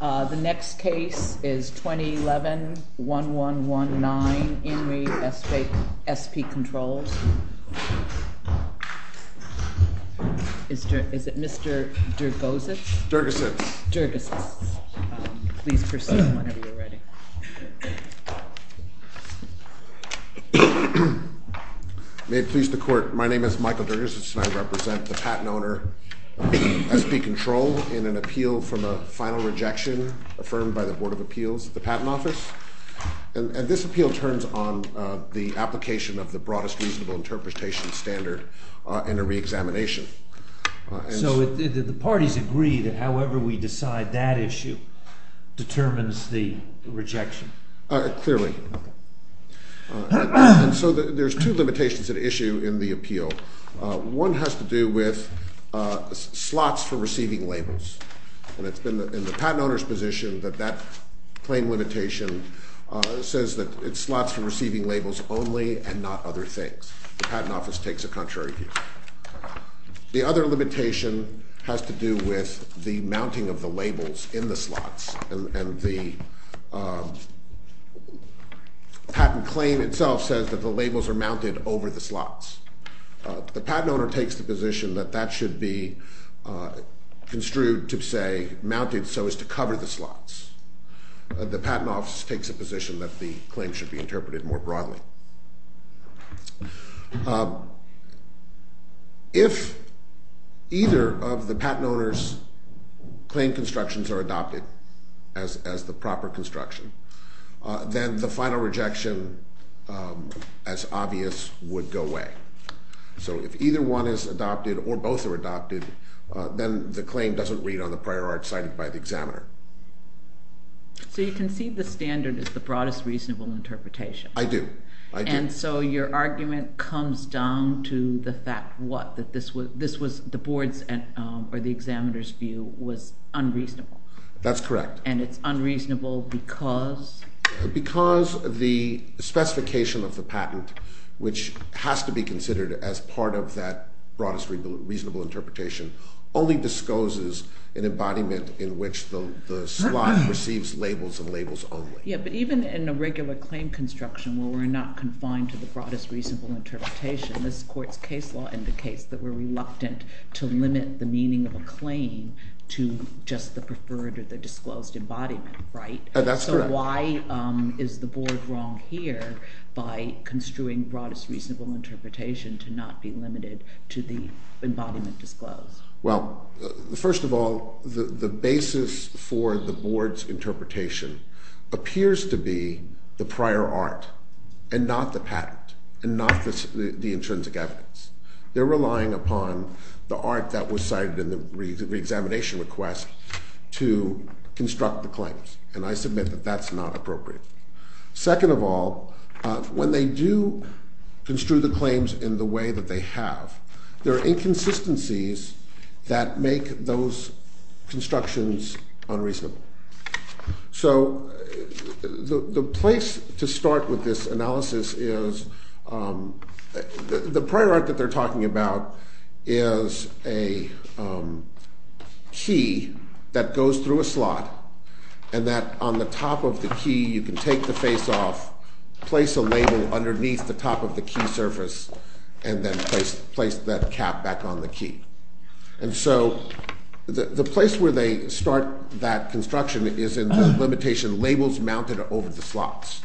The next case is 2011-1119, INRI SP CONTROLS. Is it Mr. Durgosz? Durgosz. Durgosz. Please proceed whenever you're ready. May it please the court, my name is Michael Durgosz and I represent the patent owner, SP Control in an appeal from a final rejection affirmed by the Board of Appeals at the Patent Office. And this appeal turns on the application of the broadest reasonable interpretation standard in a re-examination. So the parties agree that however we decide that issue determines the rejection? Clearly. And so there's two limitations at issue in the appeal. One has to do with slots for receiving labels. And it's been in the patent owner's position that that claim limitation says that it's slots for receiving labels only and not other things. The Patent Office takes a contrary view. The other limitation has to do with the mounting of the labels in the slots. And the patent claim itself says that the labels are mounted over the slots. The patent owner takes the position that that should be construed to say mounted so as to cover the slots. The Patent Office takes a position that the claim should be interpreted more broadly. If either of the patent owner's claim constructions are adopted as the proper construction, then the final rejection as obvious would go away. So if either one is adopted or both are adopted, then the claim doesn't read on the prior art cited by the examiner. So you concede the standard is the broadest reasonable interpretation. I do. I do. So your argument comes down to the fact what? That this was the board's or the examiner's view was unreasonable. That's correct. And it's unreasonable because? Because the specification of the patent, which has to be considered as part of that broadest reasonable interpretation, only discloses an embodiment in which the slot receives labels and labels only. Yeah, but even in a regular claim construction where we're not confined to the broadest reasonable interpretation, this court's case law indicates that we're reluctant to limit the meaning of a claim to just the preferred or the disclosed embodiment, right? That's correct. So why is the board wrong here by construing broadest reasonable interpretation to not be limited to the embodiment disclosed? Well, first of all, the basis for the board's interpretation appears to be the prior art and not the patent and not the intrinsic evidence. They're relying upon the art that was cited in the reexamination request to construct the claims, and I submit that that's not appropriate. Second of all, when they do construe the claims in the way that they have, there are inconsistencies that make those constructions unreasonable. So the place to start with this analysis is, the prior art that they're talking about is a key that goes through a slot, and that on the top of the key you can take the face off, place a label underneath the top of the key surface, and then place that cap back on the key. And so the place where they start that construction is in the limitation, labels mounted over the slots.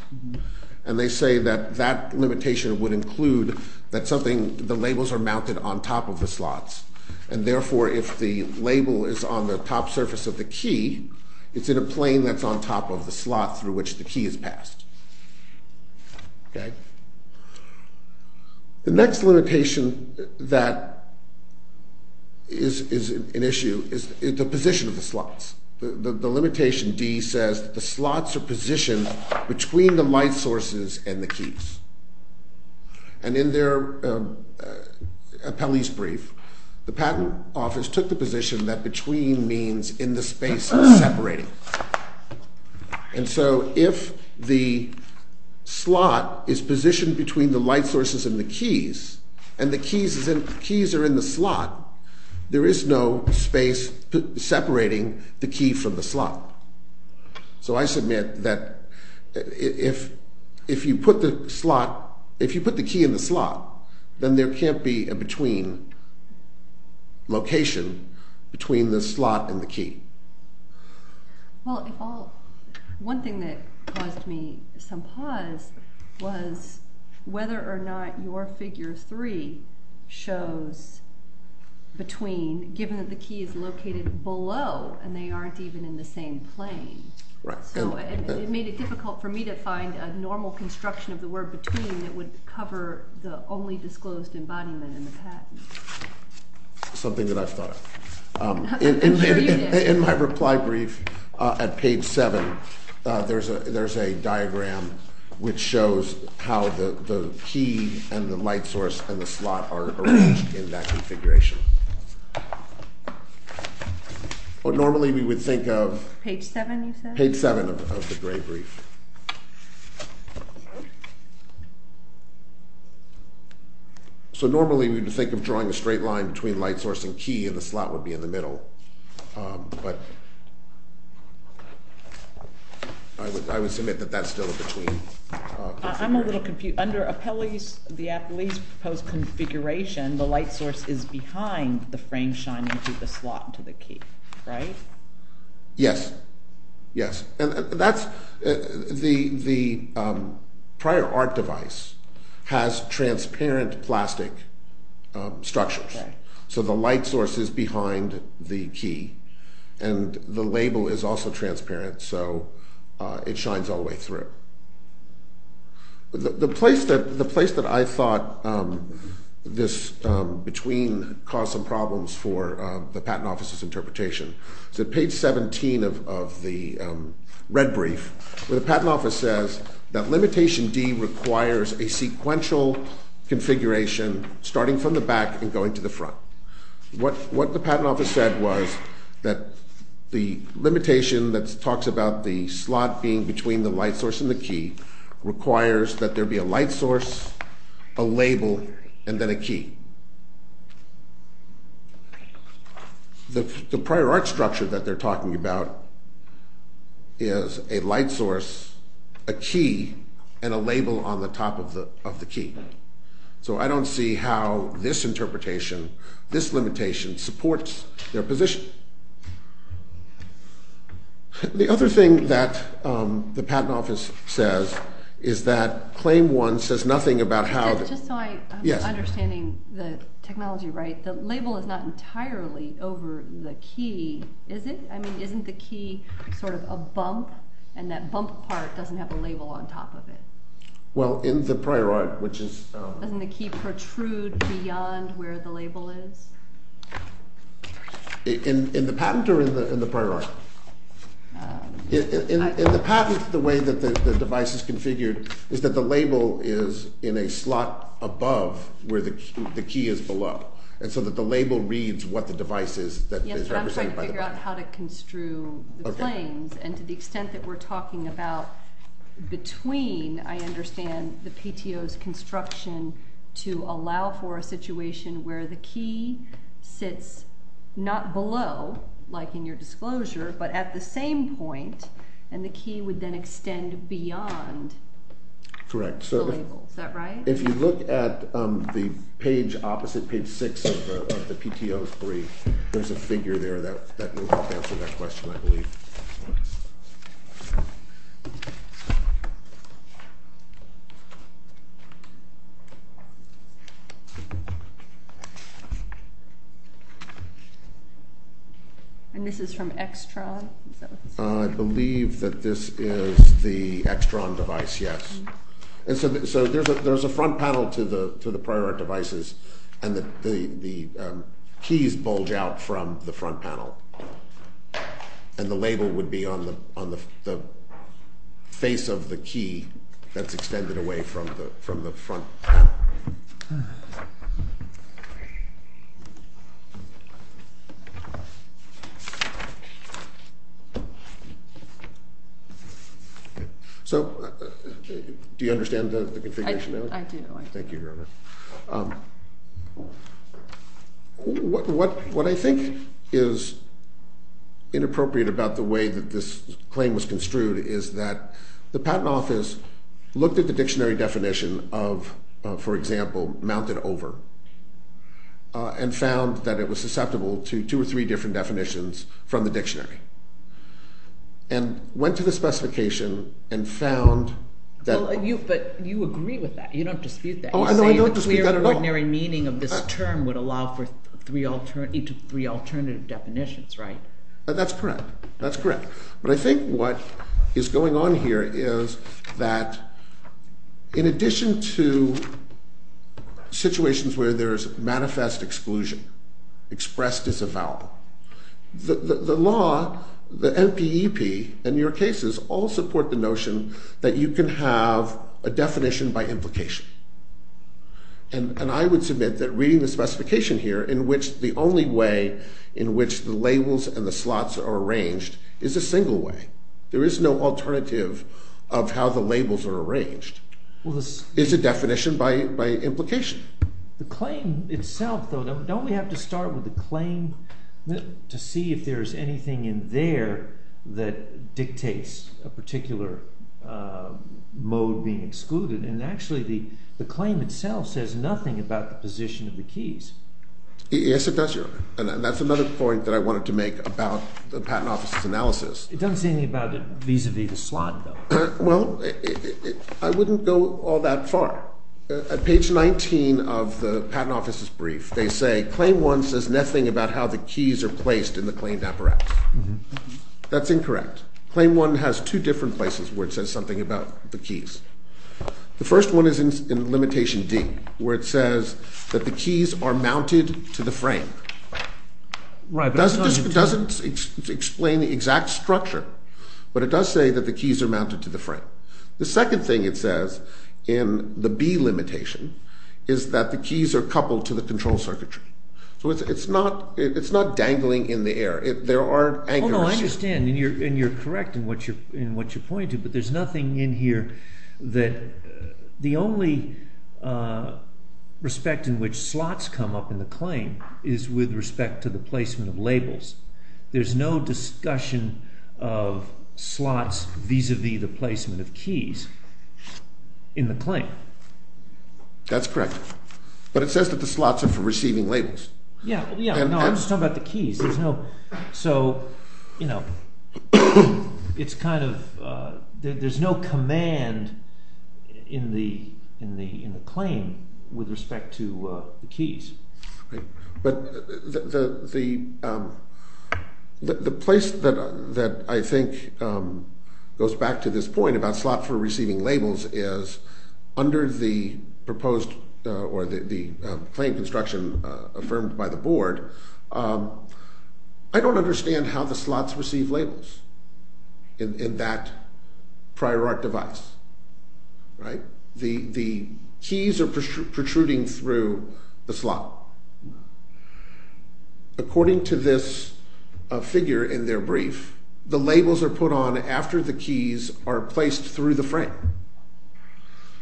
And they say that that limitation would include that something, the labels are mounted on top of the slots, and therefore if the label is on the top surface of the key, it's in a plane that's on top of the slot through which the key is passed. The next limitation that is an issue is the position of the slots. The limitation D says that the slots are positioned between the light sources and the keys. And in their appellee's brief, the patent office took the position that between means in the space separating. And so if the slot is positioned between the light sources and the keys, and the keys are in the slot, there is no space separating the key from the slot. So I submit that if you put the key in the slot, then there can't be a between location between the slot and the key. Well, one thing that caused me some pause was whether or not your figure three shows between, given that the key is located below and they aren't even in the same plane. So it made it difficult for me to find a normal construction of the word between that would cover the only disclosed embodiment in the patent. Something that I've thought of. In my reply brief at page seven, there's a diagram which shows how the key and the light source and the slot are arranged in that configuration. Normally we would think of page seven of the gray brief. So normally we would think of drawing a straight line between light source and key and the slot would be in the middle. But I would submit that that's still a between. I'm a little confused. Under the appellee's proposed configuration, the light source is behind the frame shining through the slot to the key, right? Yes, yes. The prior art device has transparent plastic structures. So the light source is behind the key and the label is also transparent so it shines all the way through. The place that I thought this between caused some problems for the patent office's interpretation is at page 17 of the red brief where the patent office says that limitation D requires a sequential configuration starting from the back and going to the front. What the patent office said was that the limitation that talks about the slot being between the light source and the key requires that there be a light source, a label, and then a key. The prior art structure that they're talking about is a light source, a key, and a label on the top of the key. So I don't see how this interpretation, this limitation, supports their position. The other thing that the patent office says is that claim one says nothing about how... Just so I'm understanding the technology right, the label is not entirely over the key, is it? I mean, isn't the key sort of a bump and that bump part doesn't have a label on top of it? Well, in the prior art, which is... Doesn't the key protrude beyond where the label is? In the patent or in the prior art? In the patent, the way that the device is configured is that the label is in a slot above where the key is below. And so that the label reads what the device is that is represented by the button. To figure out how to construe the claims and to the extent that we're talking about between, I understand the PTO's construction to allow for a situation where the key sits not below, like in your disclosure, but at the same point and the key would then extend beyond the label. Is that right? If you look at the page opposite, page six of the PTO's brief, there's a figure there that will help answer that question, I believe. And this is from Extron? I believe that this is the Extron device, yes. And so there's a front panel to the prior art devices and the keys bulge out from the front panel. And the label would be on the face of the key that's extended away from the front panel. Okay. So, do you understand the configuration? I do, I do. Thank you, Gerber. What I think is inappropriate about the way that this claim was construed is that the patent office looked at the dictionary definition of, for example, mounted over, and found that it was susceptible to two or three different definitions from the dictionary. And went to the specification and found that... But you agree with that. You don't dispute that. No, I don't dispute that at all. You say the clear ordinary meaning of this term would allow for three alternative definitions, right? That's correct. That's correct. But I think what is going on here is that in addition to situations where there's manifest exclusion, expressed as a vowel, the law, the NPEP, and your cases all support the notion that you can have a definition by implication. And I would submit that reading the specification here, in which the only way in which the labels and the slots are arranged is a single way. There is no alternative of how the labels are arranged. It's a definition by implication. The claim itself, though, don't we have to start with the claim to see if there's anything in there that dictates a particular mode being excluded? And actually the claim itself says nothing about the position of the keys. Yes, it does, Your Honor. And that's another point that I wanted to make about the Patent Office's analysis. It doesn't say anything about it vis-à-vis the slot, though. Well, I wouldn't go all that far. At page 19 of the Patent Office's brief, they say, Claim 1 says nothing about how the keys are placed in the claimed apparatus. That's incorrect. Claim 1 has two different places where it says something about the keys. The first one is in Limitation D, where it says that the keys are mounted to the frame. It doesn't explain the exact structure, but it does say that the keys are mounted to the frame. The second thing it says in the B limitation is that the keys are coupled to the control circuitry. So it's not dangling in the air. There are anchors. Well, no, I understand, and you're correct in what you're pointing to, but there's nothing in here that… The only respect in which slots come up in the claim is with respect to the placement of labels. There's no discussion of slots vis-à-vis the placement of keys in the claim. That's correct. But it says that the slots are for receiving labels. Yeah, I'm just talking about the keys. So, you know, it's kind of… There's no command in the claim with respect to the keys. But the place that I think goes back to this point about slot for receiving labels is under the proposed or the claim construction affirmed by the board, I don't understand how the slots receive labels in that prior art device. The keys are protruding through the slot. According to this figure in their brief, the labels are put on after the keys are placed through the frame.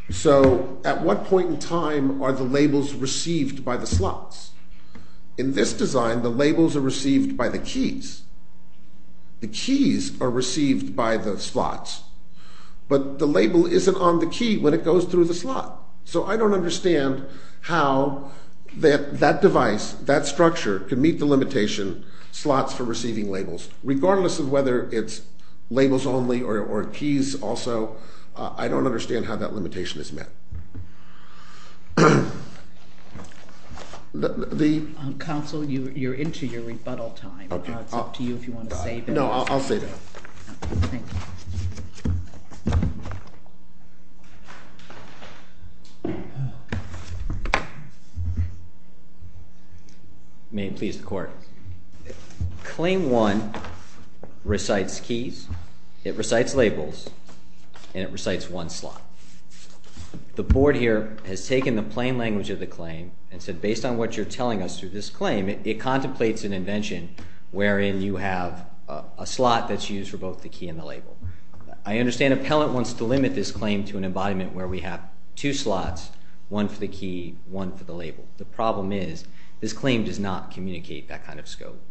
So at what point in time are the labels received by the slots? In this design, the labels are received by the keys. The keys are received by the slots. But the label isn't on the key when it goes through the slot. So I don't understand how that device, that structure, can meet the limitation, slots for receiving labels. Regardless of whether it's labels only or keys also, I don't understand how that limitation is met. The… Counsel, you're into your rebuttal time. It's up to you if you want to save it. No, I'll save it. May it please the court. Claim 1 recites keys, it recites labels, and it recites one slot. The board here has taken the plain language of the claim and said based on what you're telling us through this claim, it contemplates an invention wherein you have a slot that's used for both the key and the label. I understand appellant wants to limit this claim to an embodiment where we have two slots, one for the key, one for the label. The problem is this claim does not communicate that kind of scope.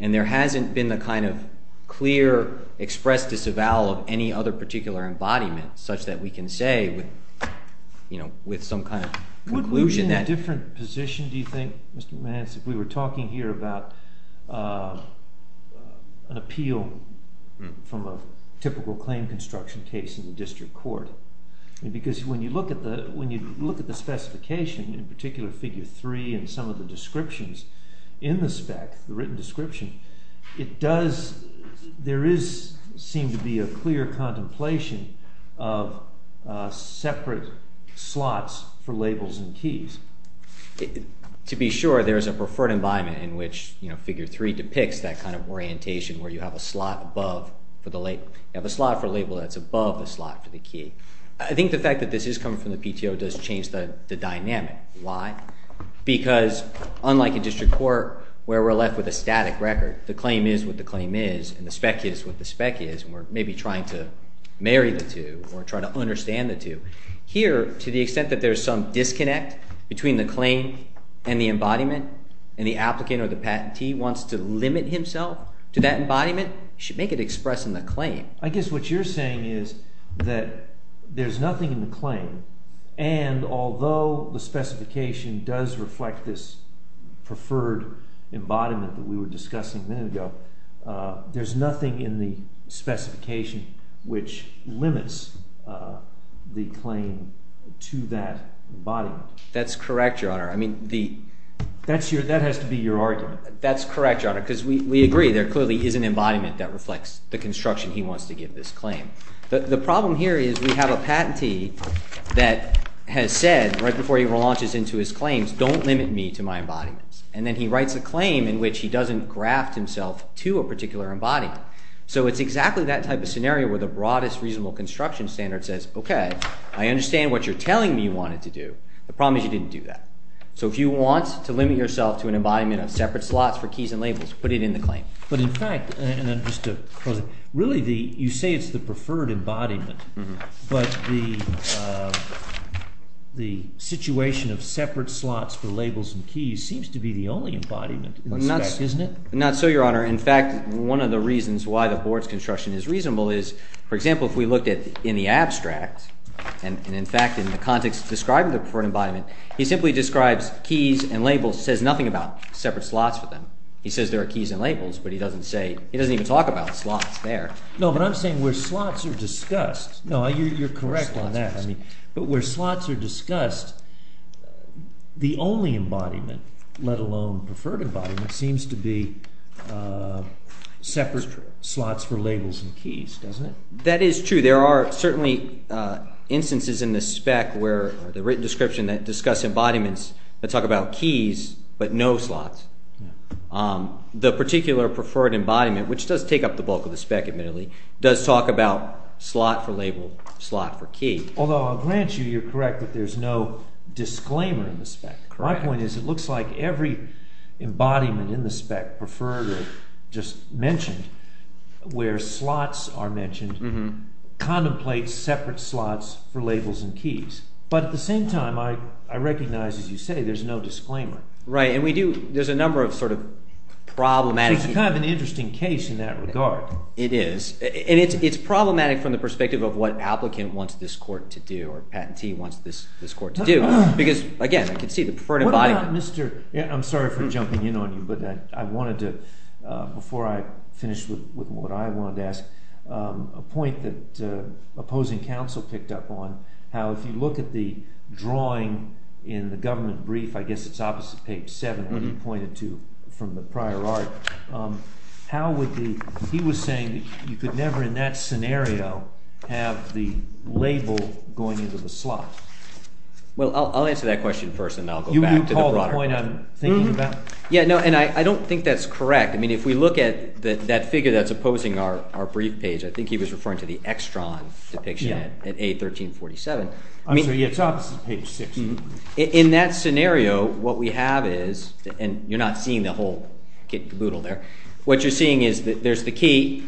And there hasn't been a kind of clear expressed disavowal of any other particular embodiment such that we can say with some kind of conclusion that… Would we be in a different position, do you think, Mr. Mance, if we were talking here about an appeal from a typical claim construction case in the district court? Because when you look at the specification, in particular figure 3 and some of the descriptions in the spec, the written description, there does seem to be a clear contemplation of separate slots for labels and keys. To be sure, there is a preferred embodiment in which figure 3 depicts that kind of orientation where you have a slot for label that's above the slot for the key. I think the fact that this is coming from the PTO does change the dynamic. Why? Because unlike a district court where we're left with a static record, the claim is what the claim is and the spec is what the spec is and we're maybe trying to marry the two or trying to understand the two. Here, to the extent that there's some disconnect between the claim and the embodiment and the applicant or the patentee wants to limit himself to that embodiment, he should make it express in the claim. I guess what you're saying is that there's nothing in the claim and although the specification does reflect this preferred embodiment that we were discussing a minute ago, there's nothing in the specification which limits the claim to that embodiment. That's correct, Your Honor. I mean, that has to be your argument. That's correct, Your Honor, because we agree there clearly is an embodiment that reflects the construction he wants to give this claim. The problem here is we have a patentee that has said right before he launches into his claims, don't limit me to my embodiments. And then he writes a claim in which he doesn't graft himself to a particular embodiment. So it's exactly that type of scenario where the broadest reasonable construction standard says, okay, I understand what you're telling me you wanted to do. The problem is you didn't do that. So if you want to limit yourself to an embodiment of separate slots for keys and labels, put it in the claim. But in fact, and just to close, really you say it's the preferred embodiment, but the situation of separate slots for labels and keys seems to be the only embodiment, isn't it? Not so, Your Honor. In fact, one of the reasons why the board's construction is reasonable is, for example, if we looked in the abstract, and in fact in the context describing the preferred embodiment, he simply describes keys and labels, says nothing about separate slots for them. He says there are keys and labels, but he doesn't say, he doesn't even talk about slots there. No, but I'm saying where slots are discussed. No, you're correct on that. But where slots are discussed, the only embodiment, let alone preferred embodiment, seems to be separate slots for labels and keys, doesn't it? That is true. There are certainly instances in the spec where the written description that discuss embodiments that talk about keys but no slots. The particular preferred embodiment, which does take up the bulk of the spec admittedly, does talk about slot for label, slot for key. Although I'll grant you you're correct that there's no disclaimer in the spec. Correct. My point is it looks like every embodiment in the spec, preferred or just mentioned, where slots are mentioned, contemplates separate slots for labels and keys. But at the same time, I recognize, as you say, there's no disclaimer. Right, and we do, there's a number of sort of problematic. It's kind of an interesting case in that regard. It is, and it's problematic from the perspective of what applicant wants this court to do or patentee wants this court to do. Because, again, I can see the preferred embodiment. What about Mr., I'm sorry for jumping in on you, but I wanted to, before I finish with what I wanted to ask, a point that opposing counsel picked up on, how if you look at the drawing in the government brief, I guess it's opposite page 7, what he pointed to from the prior art, how would the, he was saying you could never in that scenario have the label going into the slot. Well, I'll answer that question first, and then I'll go back to the product. You call the point I'm thinking about? Yeah, no, and I don't think that's correct. I mean, if we look at that figure that's opposing our brief page, I think he was referring to the Extron depiction at A1347. I'm sorry, yeah, it's opposite page 6. In that scenario, what we have is, and you're not seeing the whole caboodle there, what you're seeing is that there's the key,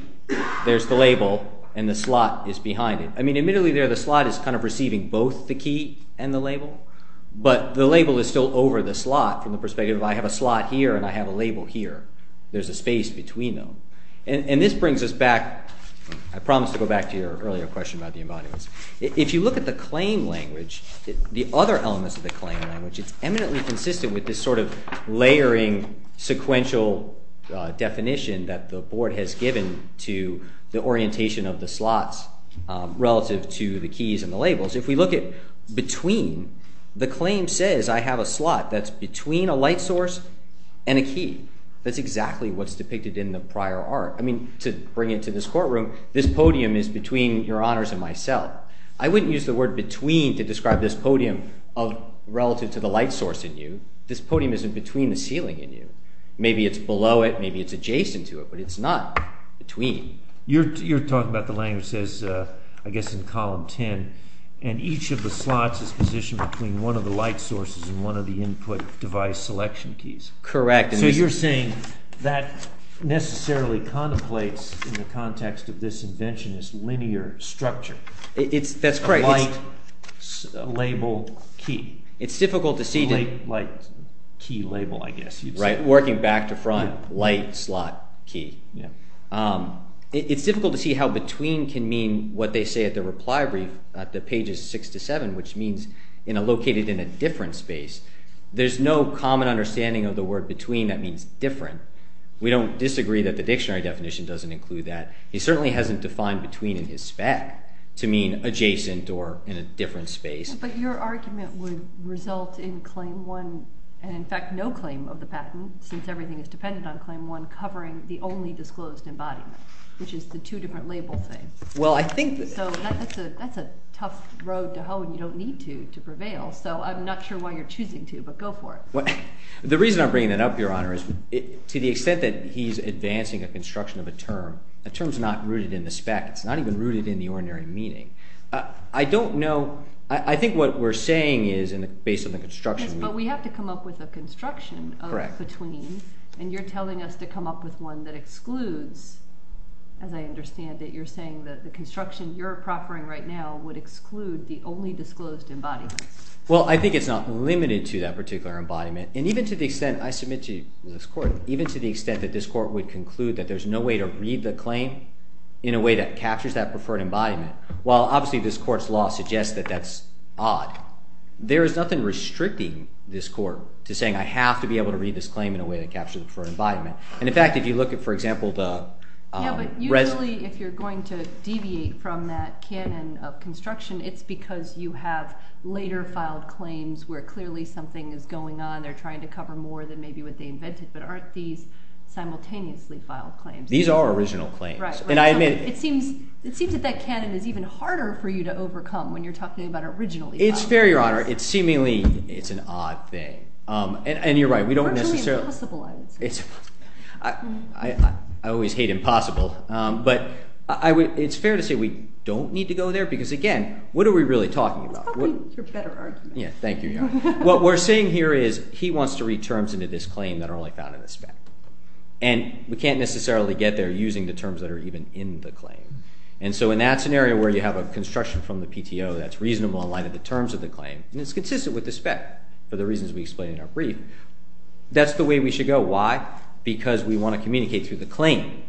there's the label, and the slot is behind it. I mean, admittedly there the slot is kind of receiving both the key and the label, but the label is still over the slot from the perspective of I have a slot here and I have a label here. There's a space between them. And this brings us back, I promise to go back to your earlier question about the embodiments. If you look at the claim language, the other elements of the claim language, it's eminently consistent with this sort of layering sequential definition that the board has given to the orientation of the slots relative to the keys and the labels. If we look at between, the claim says I have a slot that's between a light source and a key. That's exactly what's depicted in the prior art. I mean, to bring it to this courtroom, this podium is between your honors and myself. I wouldn't use the word between to describe this podium relative to the light source in you. This podium is in between the ceiling in you. Maybe it's below it, maybe it's adjacent to it, but it's not between. You're talking about the language says, I guess in column 10, and each of the slots is positioned between one of the light sources and one of the input device selection keys. Correct. So you're saying that necessarily contemplates in the context of this inventionist linear structure. That's correct. A light label key. It's difficult to see. A light key label, I guess you'd say. Working back to front, light slot key. It's difficult to see how between can mean what they say at the reply brief at the pages 6 to 7, which means located in a different space. There's no common understanding of the word between that means different. We don't disagree that the dictionary definition doesn't include that. It certainly hasn't defined between in his spec to mean adjacent or in a different space. But your argument would result in claim one and, in fact, no claim of the patent, since everything is dependent on claim one, covering the only disclosed embodiment, which is the two different label things. Well, I think that's a tough road to hoe, and you don't need to, to prevail. So I'm not sure why you're choosing to, but go for it. The reason I'm bringing that up, Your Honor, is to the extent that he's advancing a construction of a term, a term is not rooted in the spec. It's not even rooted in the ordinary meaning. I don't know. I think what we're saying is, based on the construction. But we have to come up with a construction of between, and you're telling us to come up with one that excludes, as I understand it. You're saying that the construction you're proffering right now would exclude the only disclosed embodiment. Well, I think it's not limited to that particular embodiment. And even to the extent I submit to this Court, even to the extent that this Court would conclude that there's no way to read the claim in a way that captures that preferred embodiment, while obviously this Court's law suggests that that's odd, there is nothing restricting this Court to saying I have to be able to read this claim in a way that captures the preferred embodiment. And, in fact, if you look at, for example, the... Yeah, but usually if you're going to deviate from that canon of construction, it's because you have later filed claims where clearly something is going on. They're trying to cover more than maybe what they invented. But aren't these simultaneously filed claims? These are original claims. Right. It seems that that canon is even harder for you to overcome when you're talking about originally filed claims. It's fair, Your Honor. It's seemingly an odd thing. And you're right. We don't necessarily... I always hate impossible, but it's fair to say we don't need to go there because, again, what are we really talking about? It's probably your better argument. Yeah, thank you, Your Honor. What we're saying here is he wants to read terms into this claim that are only found in the spec. And we can't necessarily get there using the terms that are even in the claim. And so in that scenario where you have a construction from the PTO that's reasonable in light of the terms of the claim, and it's consistent with the spec for the reasons we explained in our brief, that's the way we should go. Why? Because we want to communicate through the claim.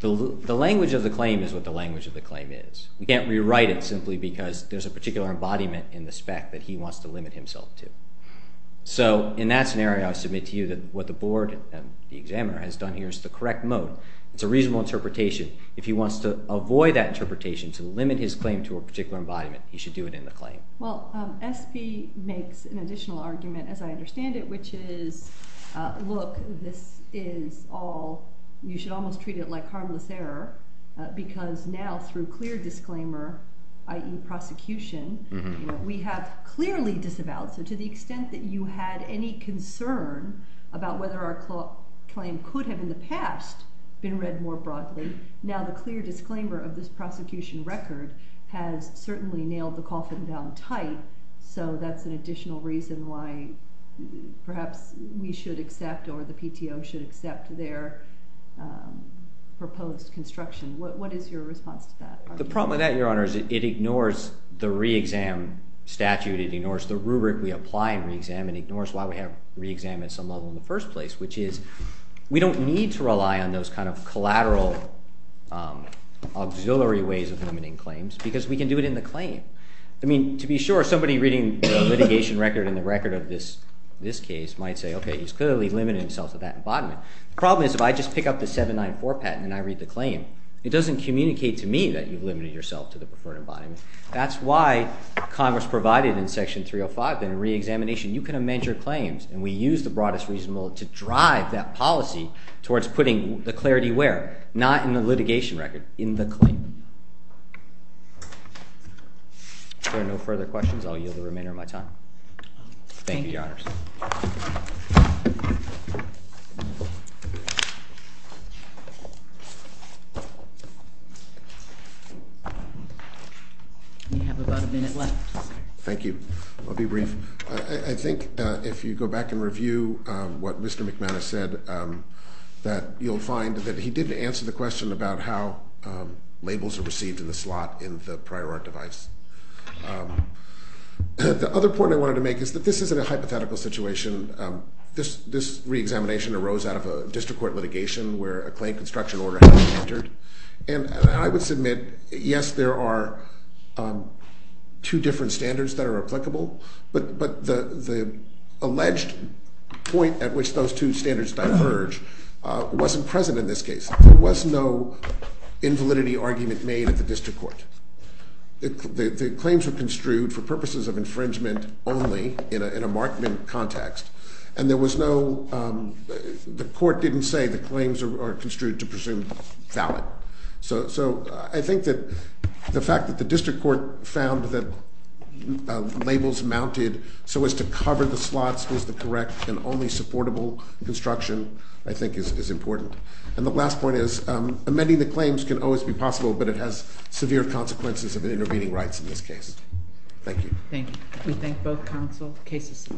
The language of the claim is what the language of the claim is. We can't rewrite it simply because there's a particular embodiment in the spec that he wants to limit himself to. So in that scenario, I submit to you that what the board and the examiner has done here is the correct mode. It's a reasonable interpretation. If he wants to avoid that interpretation to limit his claim to a particular embodiment, he should do it in the claim. Well, SP makes an additional argument, as I understand it, which is, look, this is all you should almost treat it like harmless error because now through clear disclaimer, i.e. prosecution, we have clearly disavowed. So to the extent that you had any concern about whether our claim could have in the past been read more broadly, now the clear disclaimer of this prosecution record has certainly nailed the coffin down tight, so that's an additional reason why perhaps we should accept or the PTO should accept their proposed construction. What is your response to that? The problem with that, Your Honor, is it ignores the re-exam statute. It ignores the rubric we apply in re-exam and ignores why we have re-exam at some level in the first place, which is we don't need to rely on those kind of collateral auxiliary ways of limiting claims because we can do it in the claim. I mean, to be sure, somebody reading the litigation record and the record of this case might say, okay, he's clearly limited himself to that embodiment. The problem is if I just pick up the 794 patent and I read the claim, it doesn't communicate to me that you've limited yourself to the preferred embodiment. That's why Congress provided in Section 305, in re-examination, you can amend your claims and we use the broadest reasonable to drive that policy towards putting the clarity where? Not in the litigation record, in the claim. If there are no further questions, I'll yield the remainder of my time. Thank you, Your Honors. We have about a minute left. Thank you. I'll be brief. I think if you go back and review what Mr. McManus said that you'll find that he didn't answer the question about how labels are received in the slot in the prior art device. The other point I wanted to make is that this isn't a hypothetical situation. This re-examination arose out of a district court litigation where a claim construction order had been entered. And I would submit, yes, there are two different standards that are applicable, but the alleged point at which those two standards diverge wasn't present in this case. There was no invalidity argument made at the district court. The claims were construed for purposes of infringement only in a markment context, and the court didn't say the claims are construed to presume valid. So I think that the fact that the district court found that labels mounted so as to cover the slots was the correct and only supportable construction, I think, is important. And the last point is amending the claims can always be possible, but it has severe consequences of intervening rights in this case. Thank you. Thank you. We thank both counsel. The case is amended.